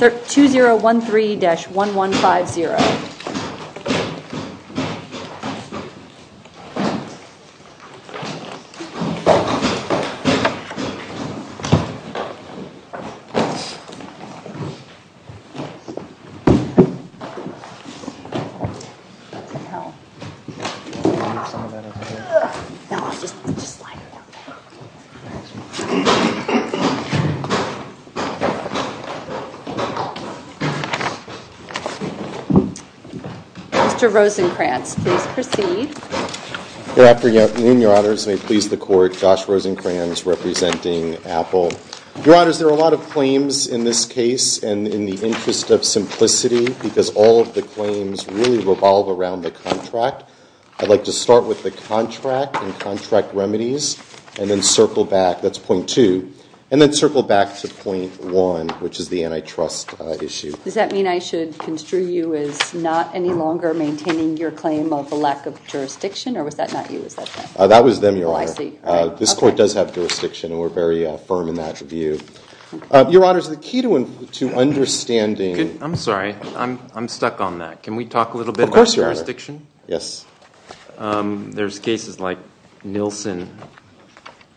2013-1150 Mr. Rosenkranz, please proceed. Good afternoon, Your Honors. May it please the Court, Josh Rosenkranz representing Apple. Your Honors, there are a lot of claims in this case and in the interest of simplicity because all of the claims really revolve around the contract. I'd like to start with the contract and contract remedies and then circle back. That's point two. And then circle back to point one, which is the antitrust issue. Does that mean I should construe you as not any longer maintaining your claim of a lack of jurisdiction? Or was that not you? That was them, Your Honor. Oh, I see. This Court does have jurisdiction, and we're very firm in that view. Your Honors, the key to understanding I'm sorry. I'm stuck on that. Can we talk a little bit about jurisdiction? Yes. There's cases like Nielsen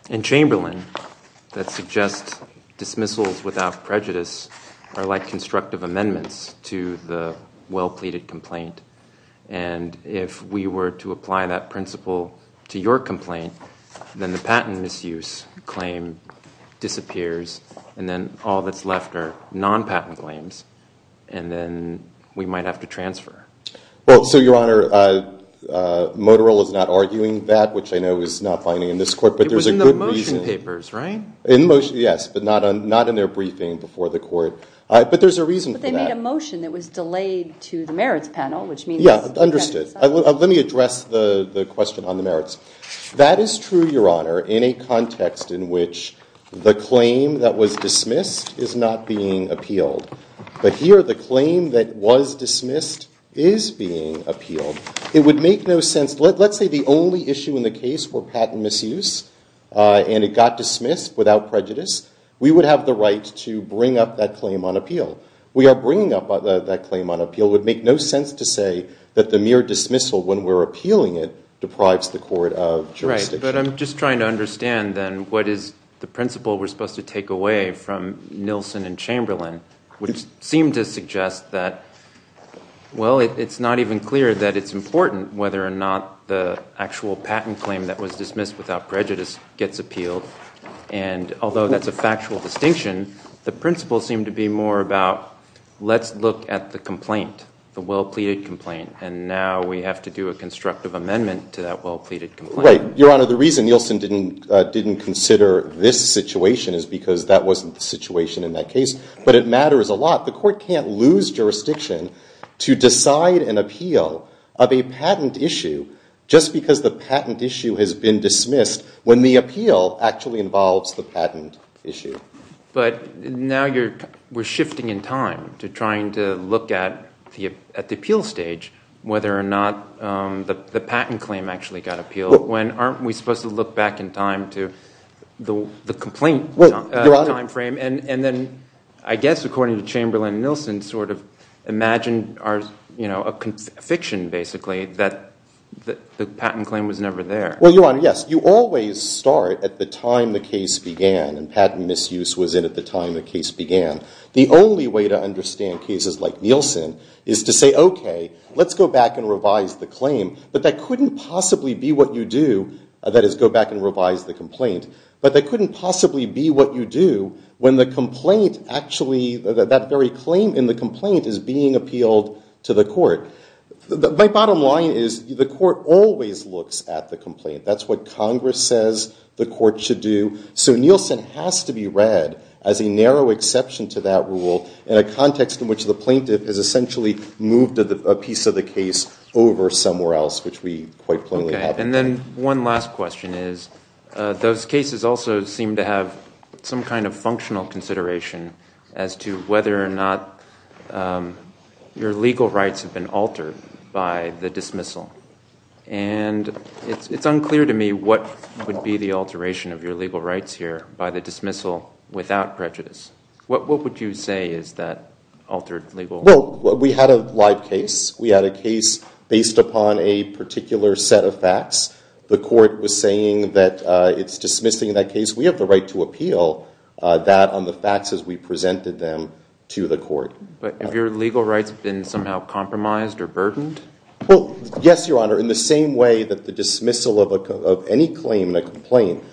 and Chamberlain that suggest dismissals without prejudice are like constructive amendments to the well-pleaded complaint. And if we were to apply that principle to your complaint, then the patent misuse claim disappears, and then all that's left are non-patent claims, and then we might have to transfer. Well, so Your Honor, Moterell is not arguing that, which I know is not binding in this Court. It was in the motion papers, right? Yes, but not in their briefing before the Court. But there's a reason for that. But they made a motion that was delayed to the merits panel, which means Yeah, understood. Let me address the question on the merits. That is true, Your Honor, in a context in which the claim that was dismissed is not being appealed. But here, the claim that was dismissed is being appealed. It would make no sense. Let's say the only issue in the case were patent misuse, and it got dismissed without prejudice. We would have the right to bring up that claim on appeal. We are bringing up that claim on appeal. It would make no sense to say that the mere dismissal when we're appealing it deprives the Court of jurisdiction. Right, but I'm just trying to understand, then, what is the principle we're supposed to take away from Nielsen and Chamberlain, which seem to suggest that, well, it's not even clear that it's important whether or not the actual patent claim that was dismissed without prejudice gets appealed. And although that's a factual distinction, the principles seem to be more about, let's look at the complaint, the well-pleaded complaint, and now we have to do a constructive amendment to that well-pleaded complaint. Right. Your Honor, the reason Nielsen didn't consider this situation is because that wasn't the situation in that case. But it matters a lot. The Court can't lose jurisdiction to decide an appeal of a patent issue just because the patent issue has been dismissed when the appeal actually involves the patent issue. But now we're shifting in time to trying to look at the appeal stage, whether or not the patent claim actually got appealed, when aren't we supposed to look back in time to the complaint time frame? And then, I guess, according to Chamberlain and Nielsen, sort of imagine a fiction, basically, that the patent claim was never there. Well, Your Honor, yes, you always start at the time the case began, and patent misuse was in at the time the case began. The only way to understand cases like Nielsen is to say, OK, let's go back and revise the claim. But that couldn't possibly be what you do, that is, go back and revise the complaint. But that couldn't possibly be what you do when the complaint actually, that very claim in the complaint is being appealed to the Court. My bottom line is the Court always looks at the complaint. That's what Congress says the Court should do. So Nielsen has to be read as a narrow exception to that rule in a context in which the plaintiff has essentially moved a piece of the case over somewhere else, which we quite plainly have here. And then one last question is, those cases also seem to have some kind of functional consideration as to whether or not your legal rights have been altered by the dismissal. And it's unclear to me what would be the alteration of your legal rights here by the dismissal without prejudice. What would you say is that altered legal rights? Well, we had a live case. We had a case based upon a particular set of facts. The Court was saying that it's dismissing that case. We have the right to appeal that on the facts as we presented them to the Court. But have your legal rights been somehow compromised or burdened? Well, yes, Your Honor. In the same way that the dismissal of any claim in a complaint,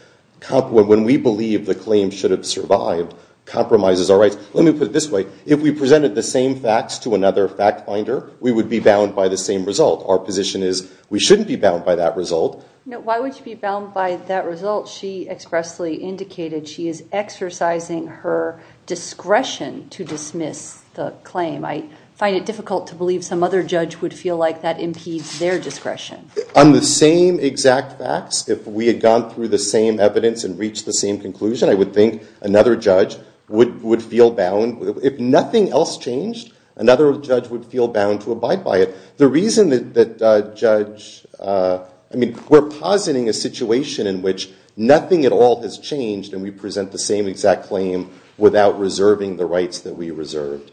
when we believe the claim should have survived, compromises our rights. Let me put it this way. If we presented the same facts to another fact finder, we would be bound by the same result. Our position is we shouldn't be bound by that result. Why would you be bound by that result? She expressly indicated she is exercising her discretion to dismiss the claim. I find it difficult to believe some other judge would feel like that impedes their discretion. On the same exact facts, if we had gone through the same evidence and reached the same conclusion, I would think another judge would feel bound. If nothing else changed, another judge would feel bound to abide by it. The reason that judge—I mean, we're positing a situation in which nothing at all has changed and we present the same exact claim without reserving the rights that we reserved.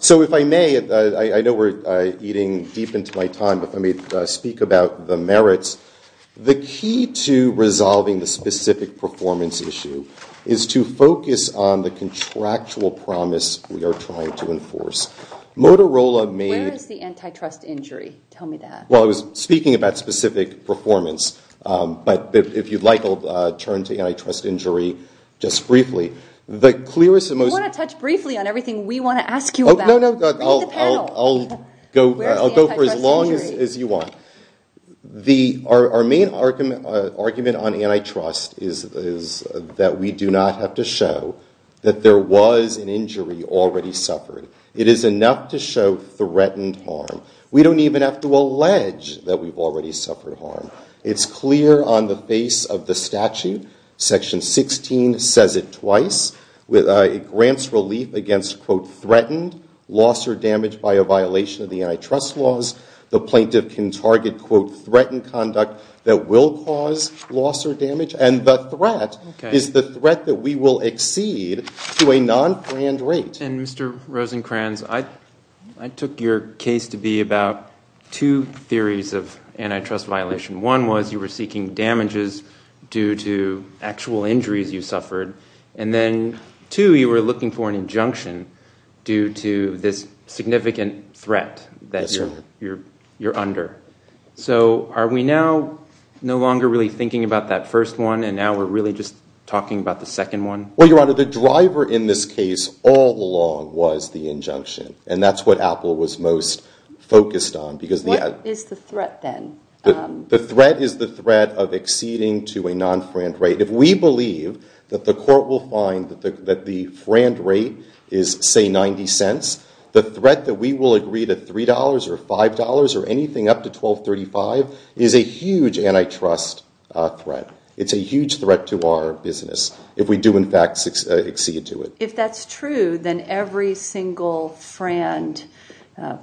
So if I may, I know we're eating deep into my time, but let me speak about the merits. The key to resolving the specific performance issue is to focus on the contractual promise we are trying to enforce. Motorola made— Where is the antitrust injury? Tell me that. Well, I was speaking about specific performance. But if you'd like, I'll turn to antitrust injury just briefly. The clearest and most— You want to touch briefly on everything we want to ask you about. Read the panel. I'll go for as long as you want. Our main argument on antitrust is that we do not have to show that there was an injury already suffered. It is enough to show threatened harm. We don't even have to allege that we've already suffered harm. It's clear on the face of the statute. Section 16 says it twice. It grants relief against, quote, threatened loss or damage by a violation of the antitrust laws. The plaintiff can target, quote, threatened conduct that will cause loss or damage. And the threat is the threat that we will exceed to a non-grant rate. And Mr. Rosenkranz, I took your case to be about two theories of antitrust violation. One was you were seeking damages due to actual injuries you suffered. And then, two, you were looking for an injunction due to this significant threat that you're under. So are we now no longer really thinking about that first one, and now we're really just talking about the second one? Well, Your Honor, the driver in this case all along was the injunction. And that's what Apple was most focused on. What is the threat then? The threat is the threat of exceeding to a non-grant rate. If we believe that the court will find that the grant rate is, say, 90 cents, the threat that we will agree to $3 or $5 or anything up to $12.35 is a huge antitrust threat. It's a huge threat to our business if we do, in fact, exceed to it. If that's true, then every single FRAND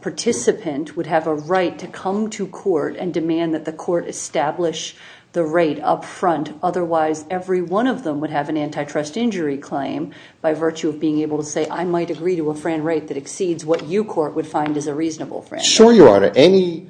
participant would have a right to come to court and demand that the court establish the rate up front. Otherwise, every one of them would have an antitrust injury claim by virtue of being able to say, I might agree to a FRAND rate that exceeds what you court would find is a reasonable FRAND rate. Sure, Your Honor. Any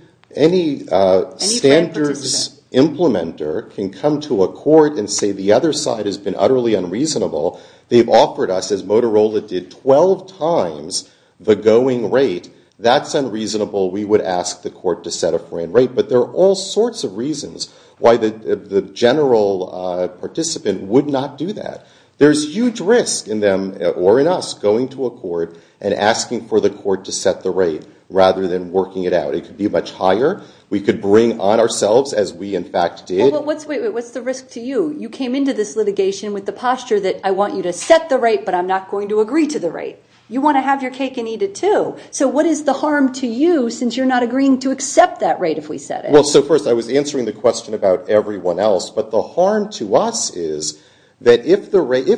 standards implementer can come to a court and say the other side has been utterly unreasonable. They've offered us, as Motorola did, 12 times the going rate. That's unreasonable. We would ask the court to set a FRAND rate. But there are all sorts of reasons why the general participant would not do that. There's huge risk in them or in us going to a court and asking for the court to set the rate rather than working it out. It could be much higher. We could bring on ourselves, as we, in fact, did. What's the risk to you? You came into this litigation with the posture that I want you to set the rate, but I'm not going to agree to the rate. You want to have your cake and eat it, too. So what is the harm to you since you're not agreeing to accept that rate if we set it? Well, so first I was answering the question about everyone else. But the harm to us is that if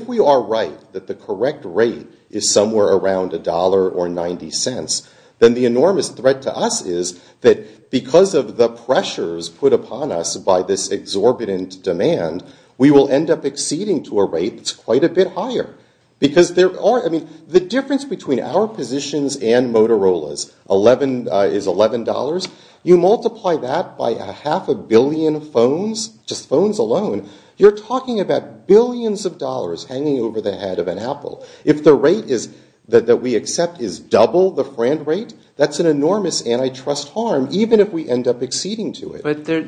we are right that the correct rate is somewhere around $1 or $0.90, then the enormous threat to us is that because of the pressures put upon us by this exorbitant demand, we will end up exceeding to a rate that's quite a bit higher. Because there are, I mean, the difference between our positions and Motorola's is $11. You multiply that by a half a billion phones, just phones alone, you're talking about billions of dollars hanging over the head of an apple. If the rate that we accept is double the friend rate, that's an enormous antitrust harm, even if we end up exceeding to it. But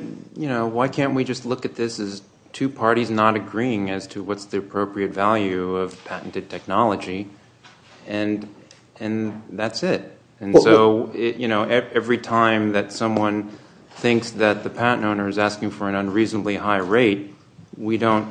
why can't we just look at this as two parties not agreeing as to what's the appropriate value of patented technology? And that's it. And so every time that someone thinks that the patent owner is asking for an unreasonably high rate, we don't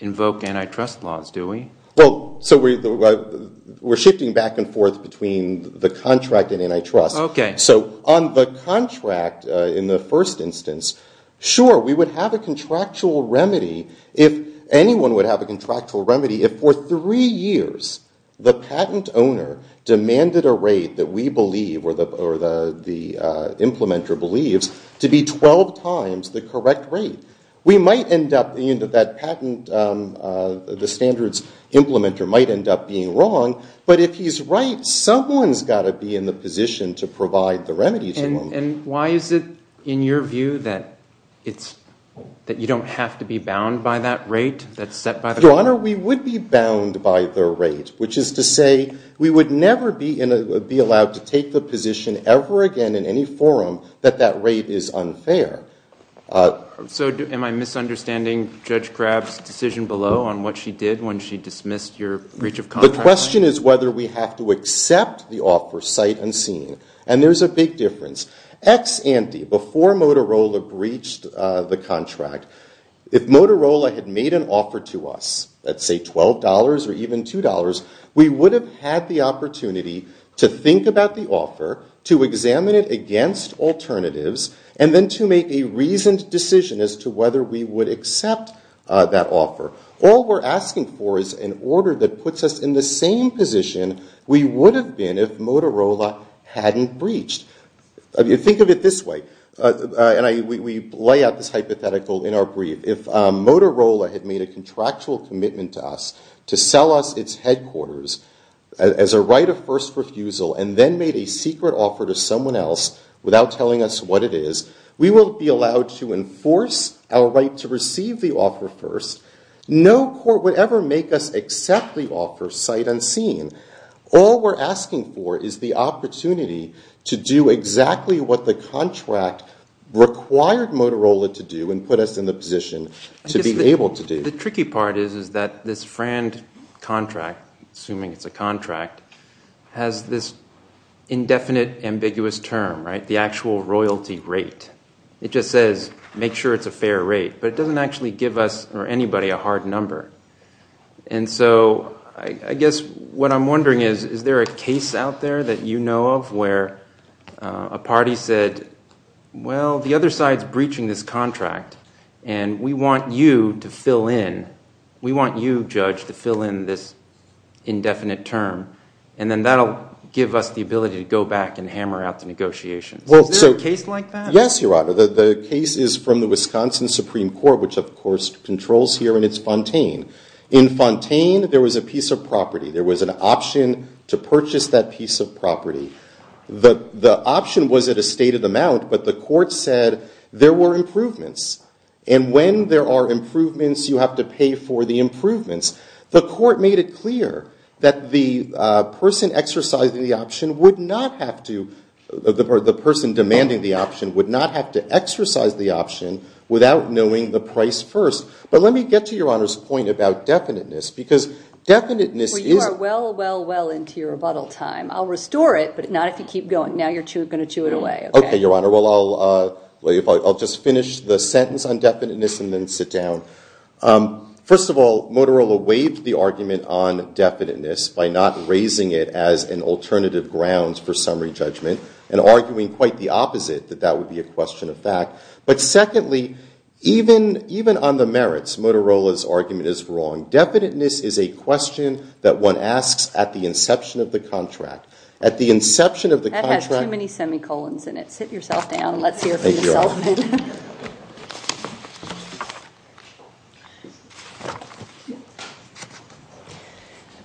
invoke antitrust laws, do we? Well, so we're shifting back and forth between the contract and antitrust. Okay. So on the contract, in the first instance, sure, we would have a contractual remedy if anyone would have a contractual remedy if for three years the patent owner demanded a rate that we believe or the implementer believes to be 12 times the correct rate. We might end up in that patent, the standards implementer might end up being wrong. But if he's right, someone's got to be in the position to provide the remedy to him. And why is it, in your view, that you don't have to be bound by that rate that's set by the court? Your Honor, we would be bound by the rate, which is to say we would never be allowed to take the position ever again in any forum that that rate is unfair. So am I misunderstanding Judge Crabb's decision below on what she did when she dismissed your breach of contract? The question is whether we have to accept the offer sight unseen. And there's a big difference. Ex ante, before Motorola breached the contract, if Motorola had made an offer to us, let's say $12 or even $2, we would have had the opportunity to think about the offer, to examine it against alternatives, and then to make a reasoned decision as to whether we would accept that offer. All we're asking for is an order that puts us in the same position we would have been if Motorola hadn't breached. Think of it this way, and we lay out this hypothetical in our brief. If Motorola had made a contractual commitment to us to sell us its headquarters as a right of first refusal and then made a secret offer to someone else without telling us what it is, we will be allowed to enforce our right to receive the offer first. No court would ever make us accept the offer sight unseen. All we're asking for is the opportunity to do exactly what the contract required Motorola to do and put us in the position to be able to do. The tricky part is that this Fran contract, assuming it's a contract, has this indefinite, ambiguous term, the actual royalty rate. It just says make sure it's a fair rate, but it doesn't actually give us or anybody a hard number. I guess what I'm wondering is, is there a case out there that you know of where a party said, well, the other side's breaching this contract, and we want you to fill in. We want you, Judge, to fill in this indefinite term, and then that will give us the ability to go back and hammer out the negotiations. Is there a case like that? Yes, Your Honor. The case is from the Wisconsin Supreme Court, which of course controls here, and it's Fontaine. In Fontaine, there was a piece of property. There was an option to purchase that piece of property. The option was at a stated amount, but the court said there were improvements, and when there are improvements, you have to pay for the improvements. The court made it clear that the person exercising the option would not have to, the person demanding the option would not have to exercise the option without knowing the price first. But let me get to Your Honor's point about definiteness, because definiteness is. Well, you are well, well, well into your rebuttal time. I'll restore it, but not if you keep going. Now you're going to chew it away. Okay, Your Honor. Well, I'll just finish the sentence on definiteness and then sit down. First of all, Motorola waived the argument on definiteness by not raising it as an alternative grounds for summary judgment and arguing quite the opposite, that that would be a question of fact. But secondly, even on the merits, Motorola's argument is wrong. Definiteness is a question that one asks at the inception of the contract. At the inception of the contract. That has too many semicolons in it. Sit yourself down. Let's hear from yourself. Go ahead.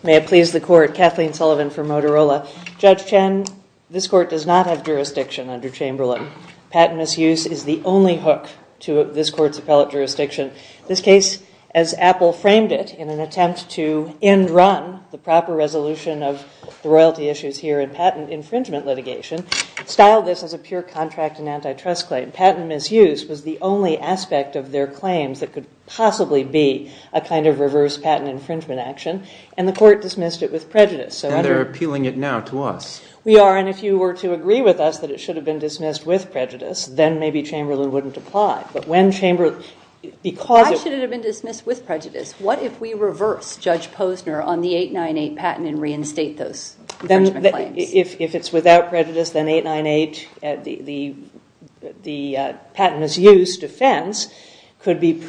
May it please the Court. Kathleen Sullivan for Motorola. Judge Chen, this Court does not have jurisdiction under Chamberlain. Patent misuse is the only hook to this Court's appellate jurisdiction. This case, as Apple framed it in an attempt to end run the proper resolution of the royalty issues here in patent infringement litigation, styled this as a pure contract and antitrust claim. And patent misuse was the only aspect of their claims that could possibly be a kind of reverse patent infringement action. And the Court dismissed it with prejudice. And they're appealing it now to us. We are. And if you were to agree with us that it should have been dismissed with prejudice, then maybe Chamberlain wouldn't apply. Why should it have been dismissed with prejudice? What if we reverse Judge Posner on the 898 patent and reinstate those infringement claims? If it's without prejudice, then 898, the patent misuse defense, could be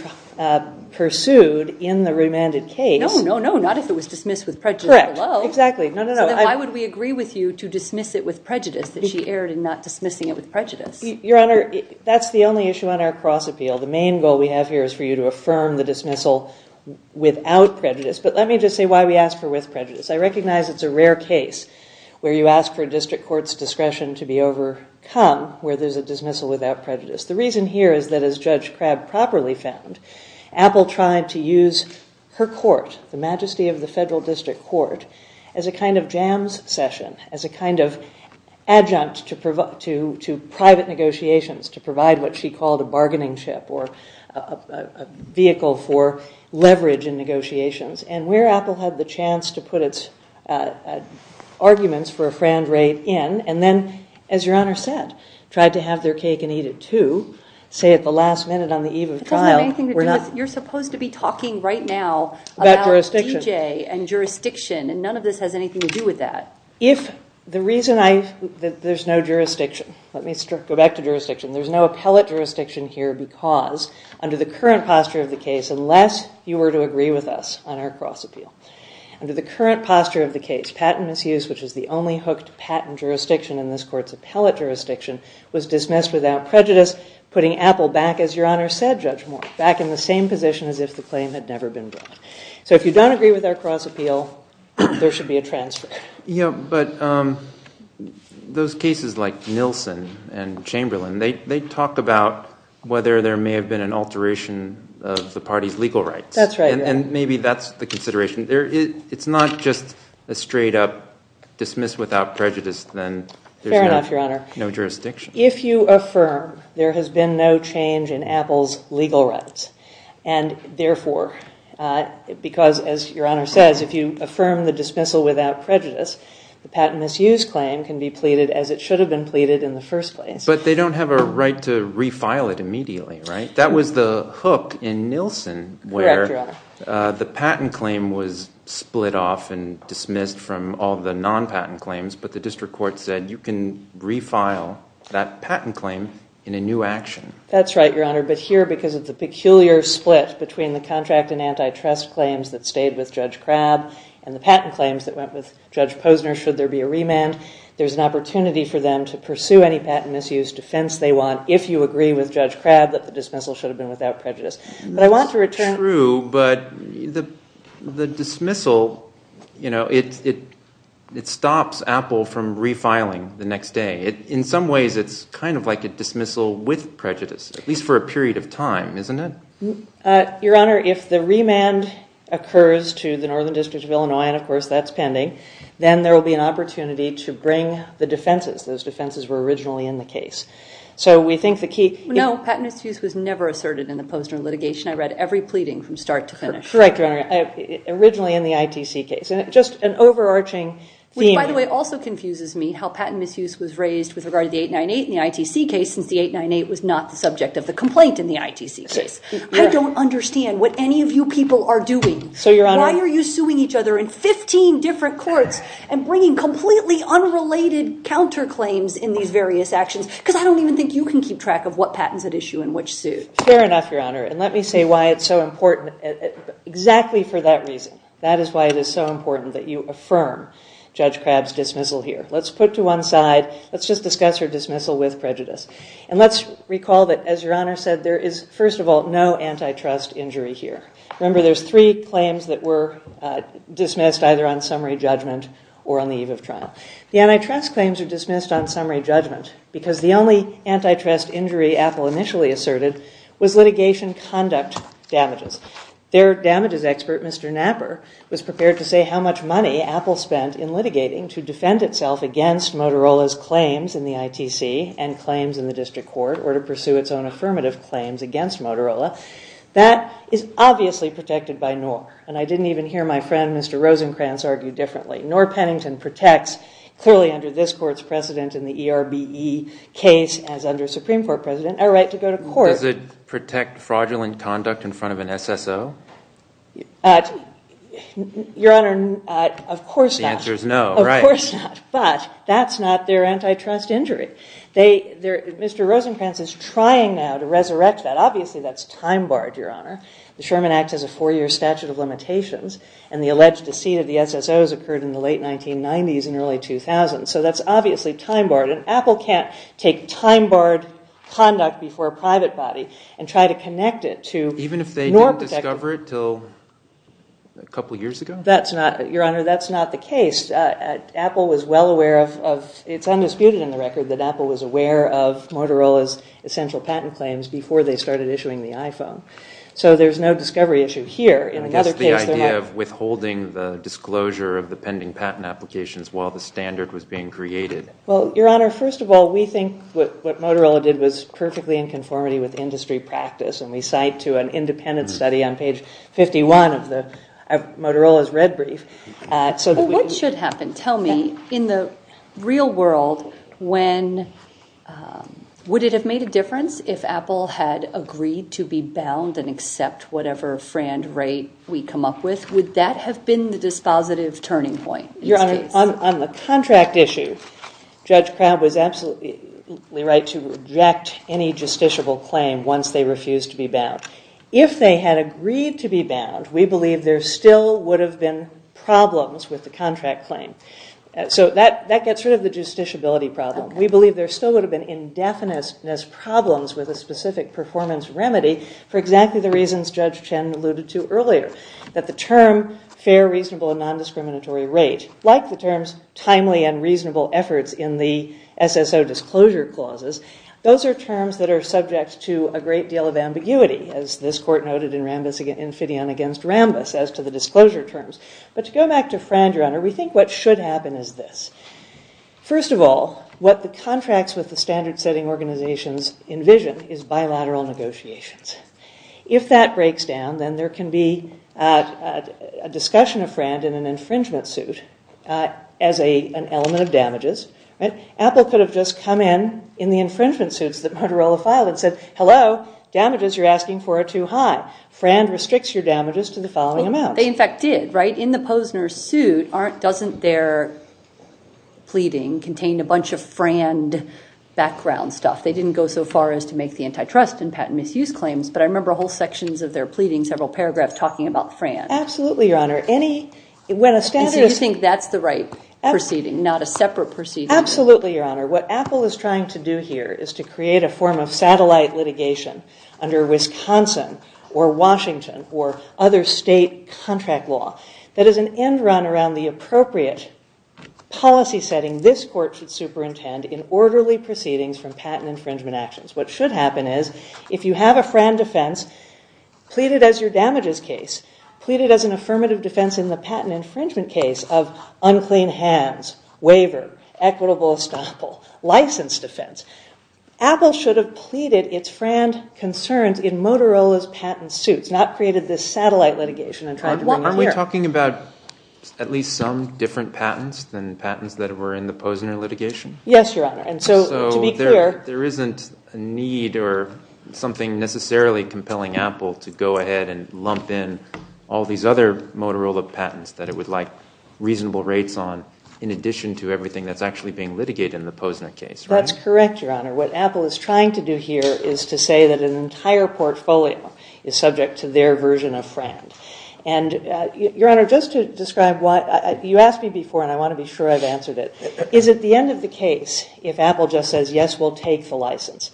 pursued in the remanded case. No, no, no. Not if it was dismissed with prejudice. Correct. Exactly. So then why would we agree with you to dismiss it with prejudice, that she erred in not dismissing it with prejudice? Your Honor, that's the only issue on our cross-appeal. The main goal we have here is for you to affirm the dismissal without prejudice. But let me just say why we ask for with prejudice. I recognize it's a rare case where you ask for a district court's discretion to be overcome, where there's a dismissal without prejudice. The reason here is that, as Judge Crabb properly found, Apple tried to use her court, the majesty of the Federal District Court, as a kind of jams session, as a kind of adjunct to private negotiations, to provide what she called a bargaining chip or a vehicle for leverage in negotiations. And where Apple had the chance to put its arguments for a frand rate in, and then, as Your Honor said, tried to have their cake and eat it too, say at the last minute on the eve of trial. That doesn't have anything to do with it. You're supposed to be talking right now about DJ and jurisdiction, and none of this has anything to do with that. If the reason I – there's no jurisdiction. Let me go back to jurisdiction. There's no appellate jurisdiction here because, under the current posture of the case, unless you were to agree with us on our cross-appeal, under the current posture of the case, patent misuse, which is the only hooked patent jurisdiction in this court's appellate jurisdiction, was dismissed without prejudice, putting Apple back, as Your Honor said, Judge Moore, back in the same position as if the claim had never been brought. So if you don't agree with our cross-appeal, there should be a transfer. Yeah, but those cases like Nilsen and Chamberlain, they talk about whether there may have been an alteration of the party's legal rights. That's right. And maybe that's the consideration. It's not just a straight-up dismiss without prejudice, then. Fair enough, Your Honor. There's no jurisdiction. If you affirm there has been no change in Apple's legal rights, and therefore – because, as Your Honor says, if you affirm the dismissal without prejudice, the patent misuse claim can be pleaded as it should have been pleaded in the first place. But they don't have a right to refile it immediately, right? That was the hook in Nilsen where the patent claim was split off and dismissed from all the non-patent claims, but the district court said you can refile that patent claim in a new action. That's right, Your Honor. But here, because of the peculiar split between the contract and antitrust claims that stayed with Judge Crabb and the patent claims that went with Judge Posner, should there be a remand, there's an opportunity for them to pursue any patent misuse defense they want if you agree with Judge Crabb that the dismissal should have been without prejudice. That's true, but the dismissal, you know, it stops Apple from refiling the next day. In some ways, it's kind of like a dismissal with prejudice, at least for a period of time, isn't it? Your Honor, if the remand occurs to the Northern District of Illinois, and of course that's pending, then there will be an opportunity to bring the defenses. Those defenses were originally in the case. So we think the key... No, patent misuse was never asserted in the Posner litigation. I read every pleading from start to finish. Correct, Your Honor. Originally in the ITC case. Just an overarching theme... Which, by the way, also confuses me how patent misuse was raised with regard to the 898 in the ITC case since the 898 was not the subject of the complaint in the ITC case. I don't understand what any of you people are doing. So, Your Honor... in 15 different courts and bringing completely unrelated counterclaims in these various actions because I don't even think you can keep track of what patents at issue and which suit. Fair enough, Your Honor. And let me say why it's so important. Exactly for that reason. That is why it is so important that you affirm Judge Crabb's dismissal here. Let's put to one side... Let's just discuss her dismissal with prejudice. And let's recall that, as Your Honor said, there is, first of all, no antitrust injury here. Remember, there's three claims that were dismissed either on summary judgment or on the eve of trial. The antitrust claims are dismissed on summary judgment because the only antitrust injury Apple initially asserted was litigation conduct damages. Their damages expert, Mr. Knapper, was prepared to say how much money Apple spent in litigating to defend itself against Motorola's claims in the ITC and claims in the district court or to pursue its own affirmative claims against Motorola. That is obviously protected by NOR. And I didn't even hear my friend, Mr. Rosencrantz, argue differently. NOR Pennington protects, clearly under this Court's precedent in the ERBE case as under Supreme Court precedent, our right to go to court. Does it protect fraudulent conduct in front of an SSO? Your Honor, of course not. The answer is no, right. Of course not. But that's not their antitrust injury. Mr. Rosencrantz is trying now to resurrect that. Obviously that's time-barred, Your Honor. The Sherman Act has a four-year statute of limitations and the alleged deceit of the SSOs occurred in the late 1990s and early 2000s. So that's obviously time-barred. And Apple can't take time-barred conduct before a private body and try to connect it to NOR protection. Even if they didn't discover it until a couple of years ago? That's not, Your Honor, that's not the case. Apple was well aware of, it's undisputed in the record, that Apple was aware of Motorola's essential patent claims before they started issuing the iPhone. So there's no discovery issue here. I guess the idea of withholding the disclosure of the pending patent applications while the standard was being created. Well, Your Honor, first of all, we think what Motorola did was perfectly in conformity with industry practice, and we cite to an independent study on page 51 of Motorola's red brief. What should happen? Tell me, in the real world, would it have made a difference if Apple had agreed to be bound and accept whatever frand rate we come up with? Would that have been the dispositive turning point in this case? Your Honor, on the contract issue, Judge Crabb was absolutely right to reject any justiciable claim once they refused to be bound. If they had agreed to be bound, we believe there still would have been problems with the contract claim. So that gets rid of the justiciability problem. We believe there still would have been indefiniteness problems with a specific performance remedy for exactly the reasons Judge Chen alluded to earlier, that the term fair, reasonable, and nondiscriminatory rate, like the terms timely and reasonable efforts in the SSO disclosure clauses, those are terms that are subject to a great deal of ambiguity, as this court noted in Fidean v. Rambis as to the disclosure terms. But to go back to frand, Your Honor, we think what should happen is this. First of all, what the contracts with the standard-setting organizations envision is bilateral negotiations. If that breaks down, then there can be a discussion of frand in an infringement suit as an element of damages. Apple could have just come in in the infringement suits that Motorola filed and said, Hello, damages you're asking for are too high. Frand restricts your damages to the following amount. They in fact did, right? In the Posner suit, doesn't their pleading contain a bunch of frand background stuff? They didn't go so far as to make the antitrust and patent misuse claims, but I remember whole sections of their pleading, several paragraphs talking about frand. Absolutely, Your Honor. Do you think that's the right proceeding, not a separate proceeding? Absolutely, Your Honor. What Apple is trying to do here is to create a form of satellite litigation under Wisconsin or Washington or other state contract law that is an end run around the appropriate policy setting this court should superintend in orderly proceedings from patent infringement actions. What should happen is if you have a frand defense pleaded as your damages case, pleaded as an affirmative defense in the patent infringement case of unclean hands, waiver, equitable estoppel, license defense, Apple should have pleaded its frand concerns in Motorola's patent suits, not created this satellite litigation. Aren't we talking about at least some different patents than patents that were in the Posner litigation? Yes, Your Honor. So there isn't a need or something necessarily compelling Apple to go ahead and lump in all these other Motorola patents that it would like reasonable rates on in addition to everything that's actually being litigated in the Posner case, right? That's correct, Your Honor. What Apple is trying to do here is to say that an entire portfolio is subject to their version of frand. And, Your Honor, just to describe what, you asked me before and I want to be sure I've answered it. Is it the end of the case if Apple just says, yes, we'll take the license?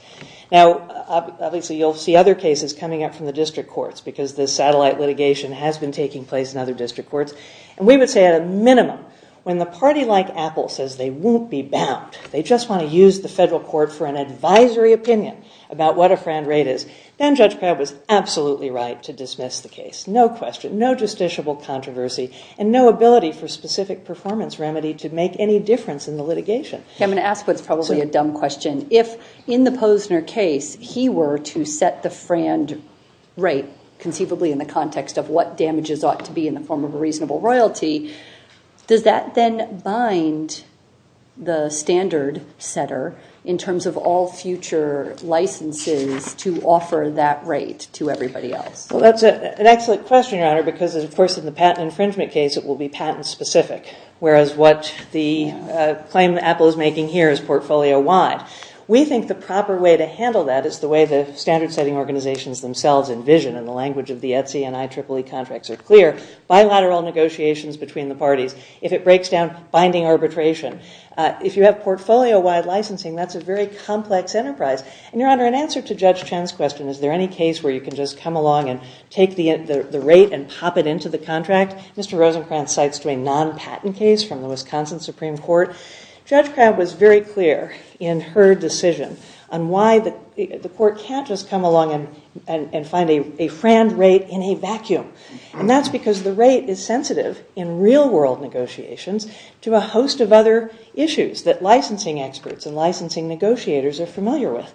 Now, obviously you'll see other cases coming up from the district courts because this satellite litigation has been taking place in other district courts. And we would say at a minimum, when the party like Apple says they won't be bound, they just want to use the federal court for an advisory opinion about what a frand rate is, then Judge Pratt was absolutely right to dismiss the case. No question, no justiciable controversy, and no ability for specific performance remedy to make any difference in the litigation. I'm going to ask what's probably a dumb question. If in the Posner case he were to set the frand rate conceivably in the context of what damages ought to be in the form of a reasonable royalty, does that then bind the standard setter in terms of all future licenses to offer that rate to everybody else? That's an excellent question, Your Honor, because of course in the patent infringement case it will be patent specific, whereas what the claim Apple is making here is portfolio wide. We think the proper way to handle that is the way the standard setting organizations themselves envision, and the language of the ETSI and IEEE contracts are clear, bilateral negotiations between the parties. If it breaks down, binding arbitration. If you have portfolio wide licensing, that's a very complex enterprise. And Your Honor, in answer to Judge Chen's question, is there any case where you can just come along and take the rate and pop it into the contract, Mr. Rosencrantz cites to a non-patent case from the Wisconsin Supreme Court, Judge Pratt was very clear in her decision on why the court can't just come along and find a frand rate in a vacuum, and that's because the rate is sensitive in real world negotiations to a host of other issues that licensing experts and licensing negotiators are familiar with.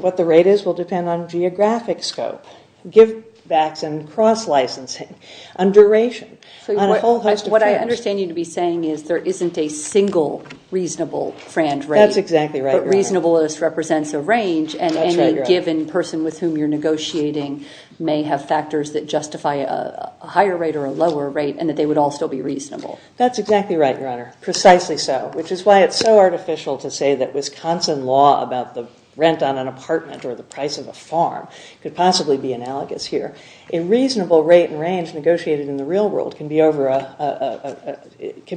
What the rate is will depend on geographic scope, give backs and cross licensing, on duration, on a whole host of things. What I understand you to be saying is there isn't a single reasonable frand rate. That's exactly right, Your Honor. But reasonable represents a range, and any given person with whom you're negotiating may have factors that justify a higher rate or a lower rate and that they would all still be reasonable. That's exactly right, Your Honor. Precisely so. Which is why it's so artificial to say that Wisconsin law about the rent on an apartment or the price of a farm could possibly be analogous here. A reasonable rate and range negotiated in the real world can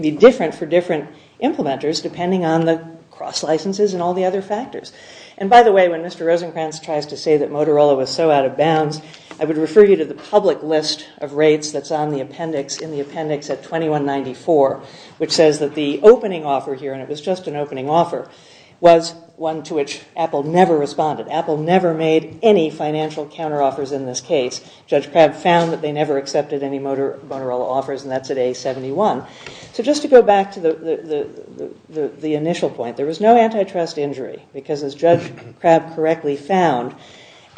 be different for different implementers depending on the cross licenses and all the other factors. And by the way, when Mr. Rosencrantz tries to say that Motorola was so out of bounds, I would refer you to the public list of rates that's on the appendix, in the appendix at 2194, which says that the opening offer here, and it was just an opening offer, was one to which Apple never responded. Apple never made any financial counteroffers in this case. Judge Crabb found that they never accepted any Motorola offers, and that's at A71. So just to go back to the initial point, there was no antitrust injury because, as Judge Crabb correctly found,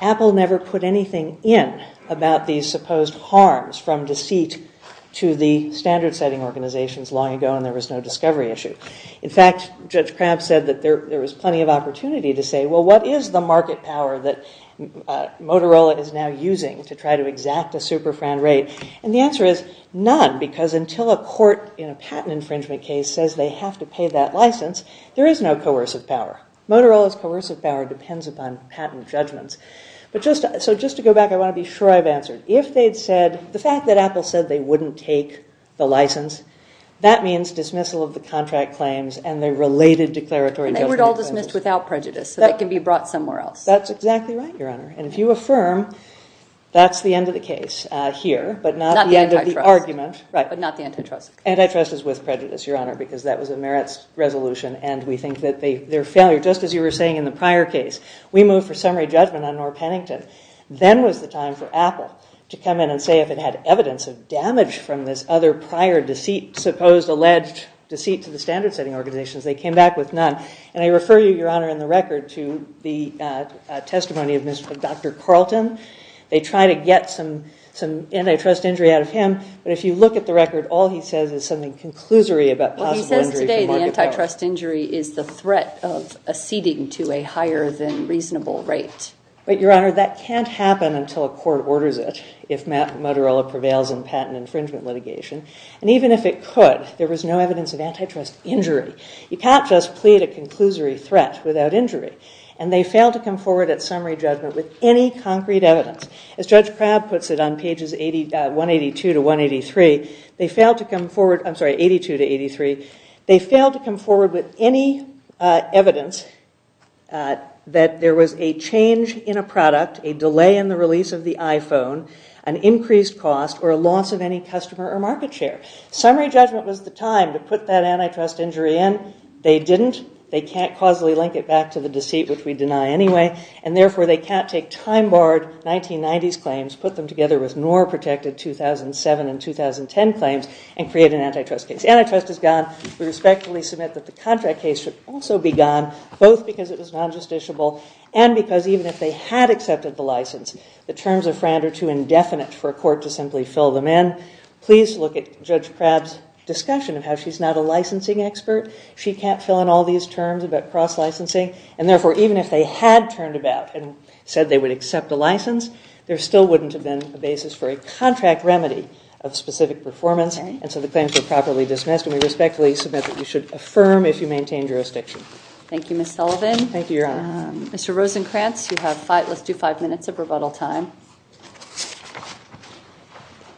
Apple never put anything in about these supposed harms from deceit to the standard-setting organizations long ago, and there was no discovery issue. In fact, Judge Crabb said that there was plenty of opportunity to say, well, what is the market power that Motorola is now using to try to exact a super-fran rate? And the answer is none, because until a court in a patent infringement case says they have to pay that license, there is no coercive power. Motorola's coercive power depends upon patent judgments. So just to go back, I want to be sure I've answered. The fact that Apple said they wouldn't take the license, that means dismissal of the contract claims and their related declaratory judgment. And they were all dismissed without prejudice, so that can be brought somewhere else. That's exactly right, Your Honor. And if you affirm, that's the end of the case here, but not the end of the argument. But not the antitrust. Antitrust is with prejudice, Your Honor, because that was a merits resolution. And we think that their failure, just as you were saying in the prior case, we move for summary judgment on Norr Pennington. Then was the time for Apple to come in and say if it had evidence of damage from this other prior deceit, supposed alleged deceit to the standard-setting organizations. They came back with none. And I refer you, Your Honor, in the record to the testimony of Dr. Carlton. They try to get some antitrust injury out of him. But if you look at the record, all he says is something conclusory about possible injury from market power. Well, he says today the antitrust injury is the threat of acceding to a higher than reasonable rate. But, Your Honor, that can't happen until a court orders it, if Motorola prevails in patent infringement litigation. And even if it could, there was no evidence of antitrust injury. You can't just plead a conclusory threat without injury. And they failed to come forward at summary judgment with any concrete evidence. As Judge Crabb puts it on pages 182 to 183, they failed to come forward. I'm sorry, 82 to 83. They failed to come forward with any evidence that there was a change in a product, a delay in the release of the iPhone, an increased cost, or a loss of any customer or market share. Summary judgment was the time to put that antitrust injury in. They didn't. They can't causally link it back to the deceit, which we deny anyway. And therefore, they can't take time-barred 1990s claims, put them together with NOR-protected 2007 and 2010 claims, and create an antitrust case. Antitrust is gone. We respectfully submit that the contract case should also be gone, both because it was non-justiciable and because even if they had accepted the license, the terms of Frand are too indefinite for a court to simply fill them in. Please look at Judge Crabb's discussion of how she's not a licensing expert. She can't fill in all these terms about cross-licensing. And therefore, even if they had turned about and said they would accept a license, there still wouldn't have been a basis for a contract remedy of specific performance. And so the claims were properly dismissed. And we respectfully submit that you should affirm if you maintain jurisdiction. Thank you, Ms. Sullivan. Thank you, Your Honor. Mr. Rosenkranz, you have five. Let's do five minutes of rebuttal time.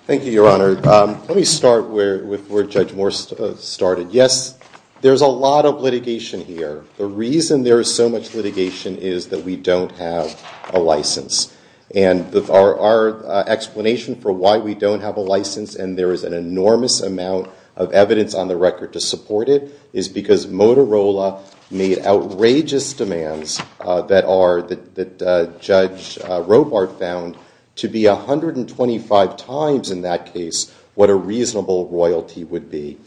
Thank you, Your Honor. Let me start with where Judge Moore started. Yes, there's a lot of litigation here. The reason there is so much litigation is that we don't have a license. And our explanation for why we don't have a license and there is an enormous amount of evidence on the record to support it is because Motorola made outrageous demands that Judge Robart found to be 125 times in that case what a reasonable royalty would be.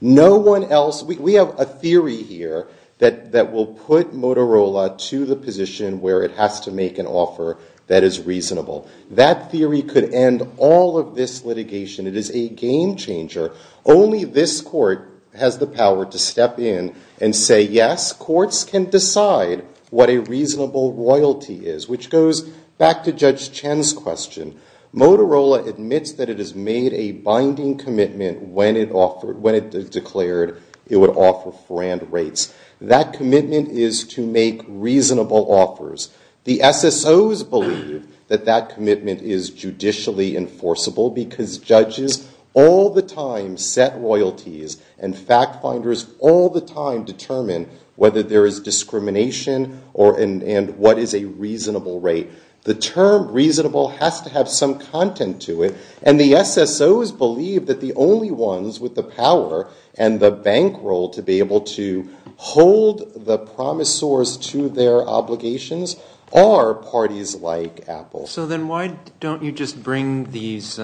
No one else, we have a theory here that will put Motorola to the position where it has to make an offer that is reasonable. That theory could end all of this litigation. It is a game changer. Only this court has the power to step in and say, yes, courts can decide what a reasonable royalty is, which goes back to Judge Chen's question. Motorola admits that it has made a binding commitment when it declared it would offer for and rates. That commitment is to make reasonable offers. The SSOs believe that that commitment is judicially enforceable because judges all the time set royalties and fact finders all the time determine whether there is discrimination and what is a reasonable rate. The term reasonable has to have some content to it. And the SSOs believe that the only ones with the power and the bankroll to be able to hold the promisors to their obligations are parties like Apple. So then why don't you just bring these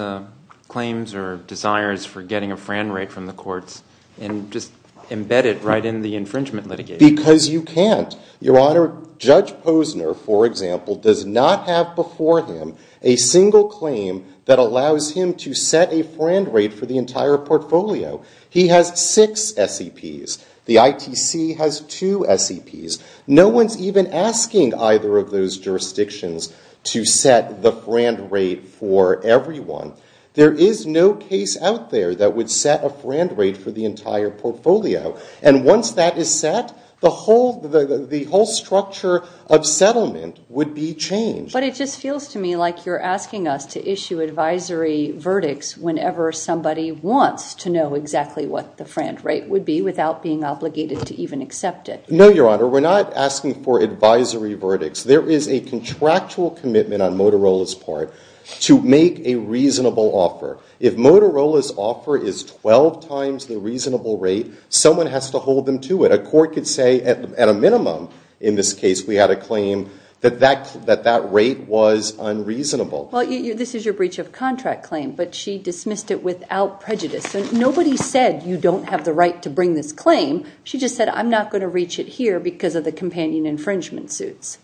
claims or desires for getting a fran rate from the courts and just embed it right in the infringement litigation? Because you can't. Your Honor, Judge Posner, for example, does not have before him a single claim that allows him to set a fran rate for the entire portfolio. He has six SEPs. The ITC has two SEPs. No one's even asking either of those jurisdictions to set the fran rate for everyone. There is no case out there that would set a fran rate for the entire portfolio. And once that is set, the whole structure of settlement would be changed. But it just feels to me like you're asking us to issue advisory verdicts whenever somebody wants to know exactly what the fran rate would be without being obligated to even accept it. No, Your Honor. We're not asking for advisory verdicts. There is a contractual commitment on Motorola's part to make a reasonable offer. If Motorola's offer is 12 times the reasonable rate, someone has to hold them to it. A court could say, at a minimum in this case, we had a claim that that rate was unreasonable. Well, this is your breach of contract claim. But she dismissed it without prejudice. So nobody said, you don't have the right to bring this claim. She just said, I'm not going to reach it here because of the companion infringement suits.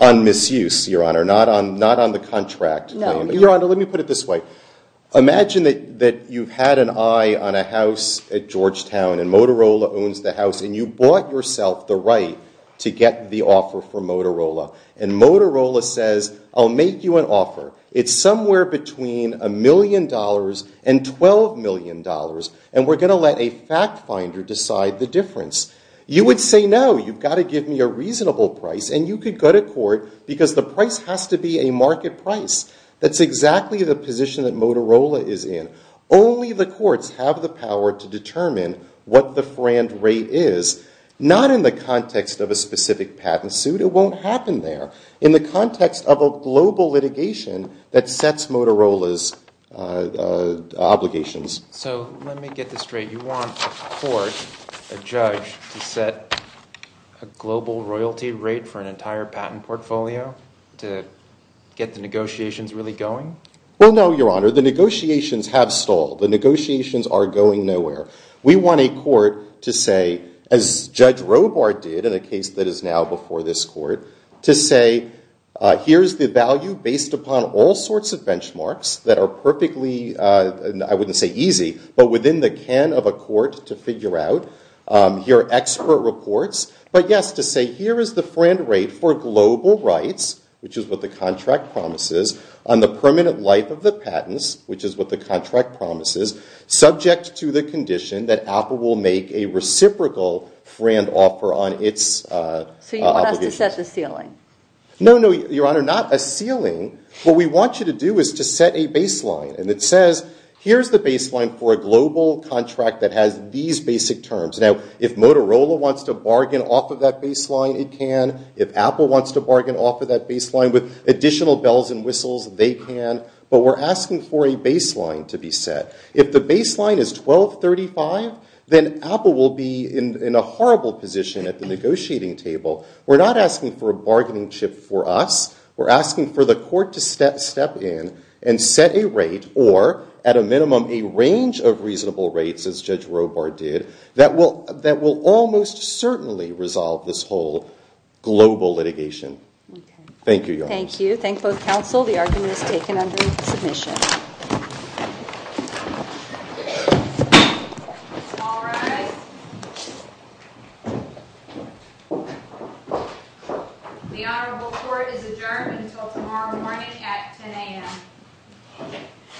On misuse, Your Honor. Not on the contract claim. Your Honor, let me put it this way. Imagine that you've had an eye on a house at Georgetown and Motorola owns the house. And you bought yourself the right to get the offer from Motorola. And Motorola says, I'll make you an offer. It's somewhere between $1 million and $12 million. And we're going to let a fact finder decide the difference. You would say, no. You've got to give me a reasonable price. And you could go to court because the price has to be a market price. That's exactly the position that Motorola is in. Only the courts have the power to determine what the frand rate is. Not in the context of a specific patent suit. It won't happen there. In the context of a global litigation that sets Motorola's obligations. So let me get this straight. You want a court, a judge, to set a global royalty rate for an entire patent portfolio to get the negotiations really going? Well, no, Your Honor. The negotiations have stalled. The negotiations are going nowhere. We want a court to say, as Judge Robart did in a case that is now before this court, to say, here's the value based upon all sorts of benchmarks that are perfectly, I wouldn't say easy, but within the can of a court to figure out. Here are expert reports. But yes, to say, here is the frand rate for global rights, which is what the contract promises, on the permanent life of the patents, which is what the contract promises, subject to the condition that Apple will make a reciprocal frand offer on its obligations. So you want us to set the ceiling? No, no, Your Honor. Not a ceiling. What we want you to do is to set a baseline. And it says, here's the baseline for a global contract that has these basic terms. Now, if Motorola wants to bargain off of that baseline, it can. If Apple wants to bargain off of that baseline with additional bells and whistles, they can. But we're asking for a baseline to be set. If the baseline is $1,235, then Apple will be in a horrible position at the negotiating table. We're not asking for a bargaining chip for us. We're asking for the court to step in and set a rate, or at a minimum, a range of reasonable rates, as Judge Robart did, that will almost certainly resolve this whole global litigation. Thank you, Your Honor. Thank you. Thank both counsel. The argument is taken under submission. Thank you. All rise. The Honorable Court is adjourned until tomorrow morning at 10 AM.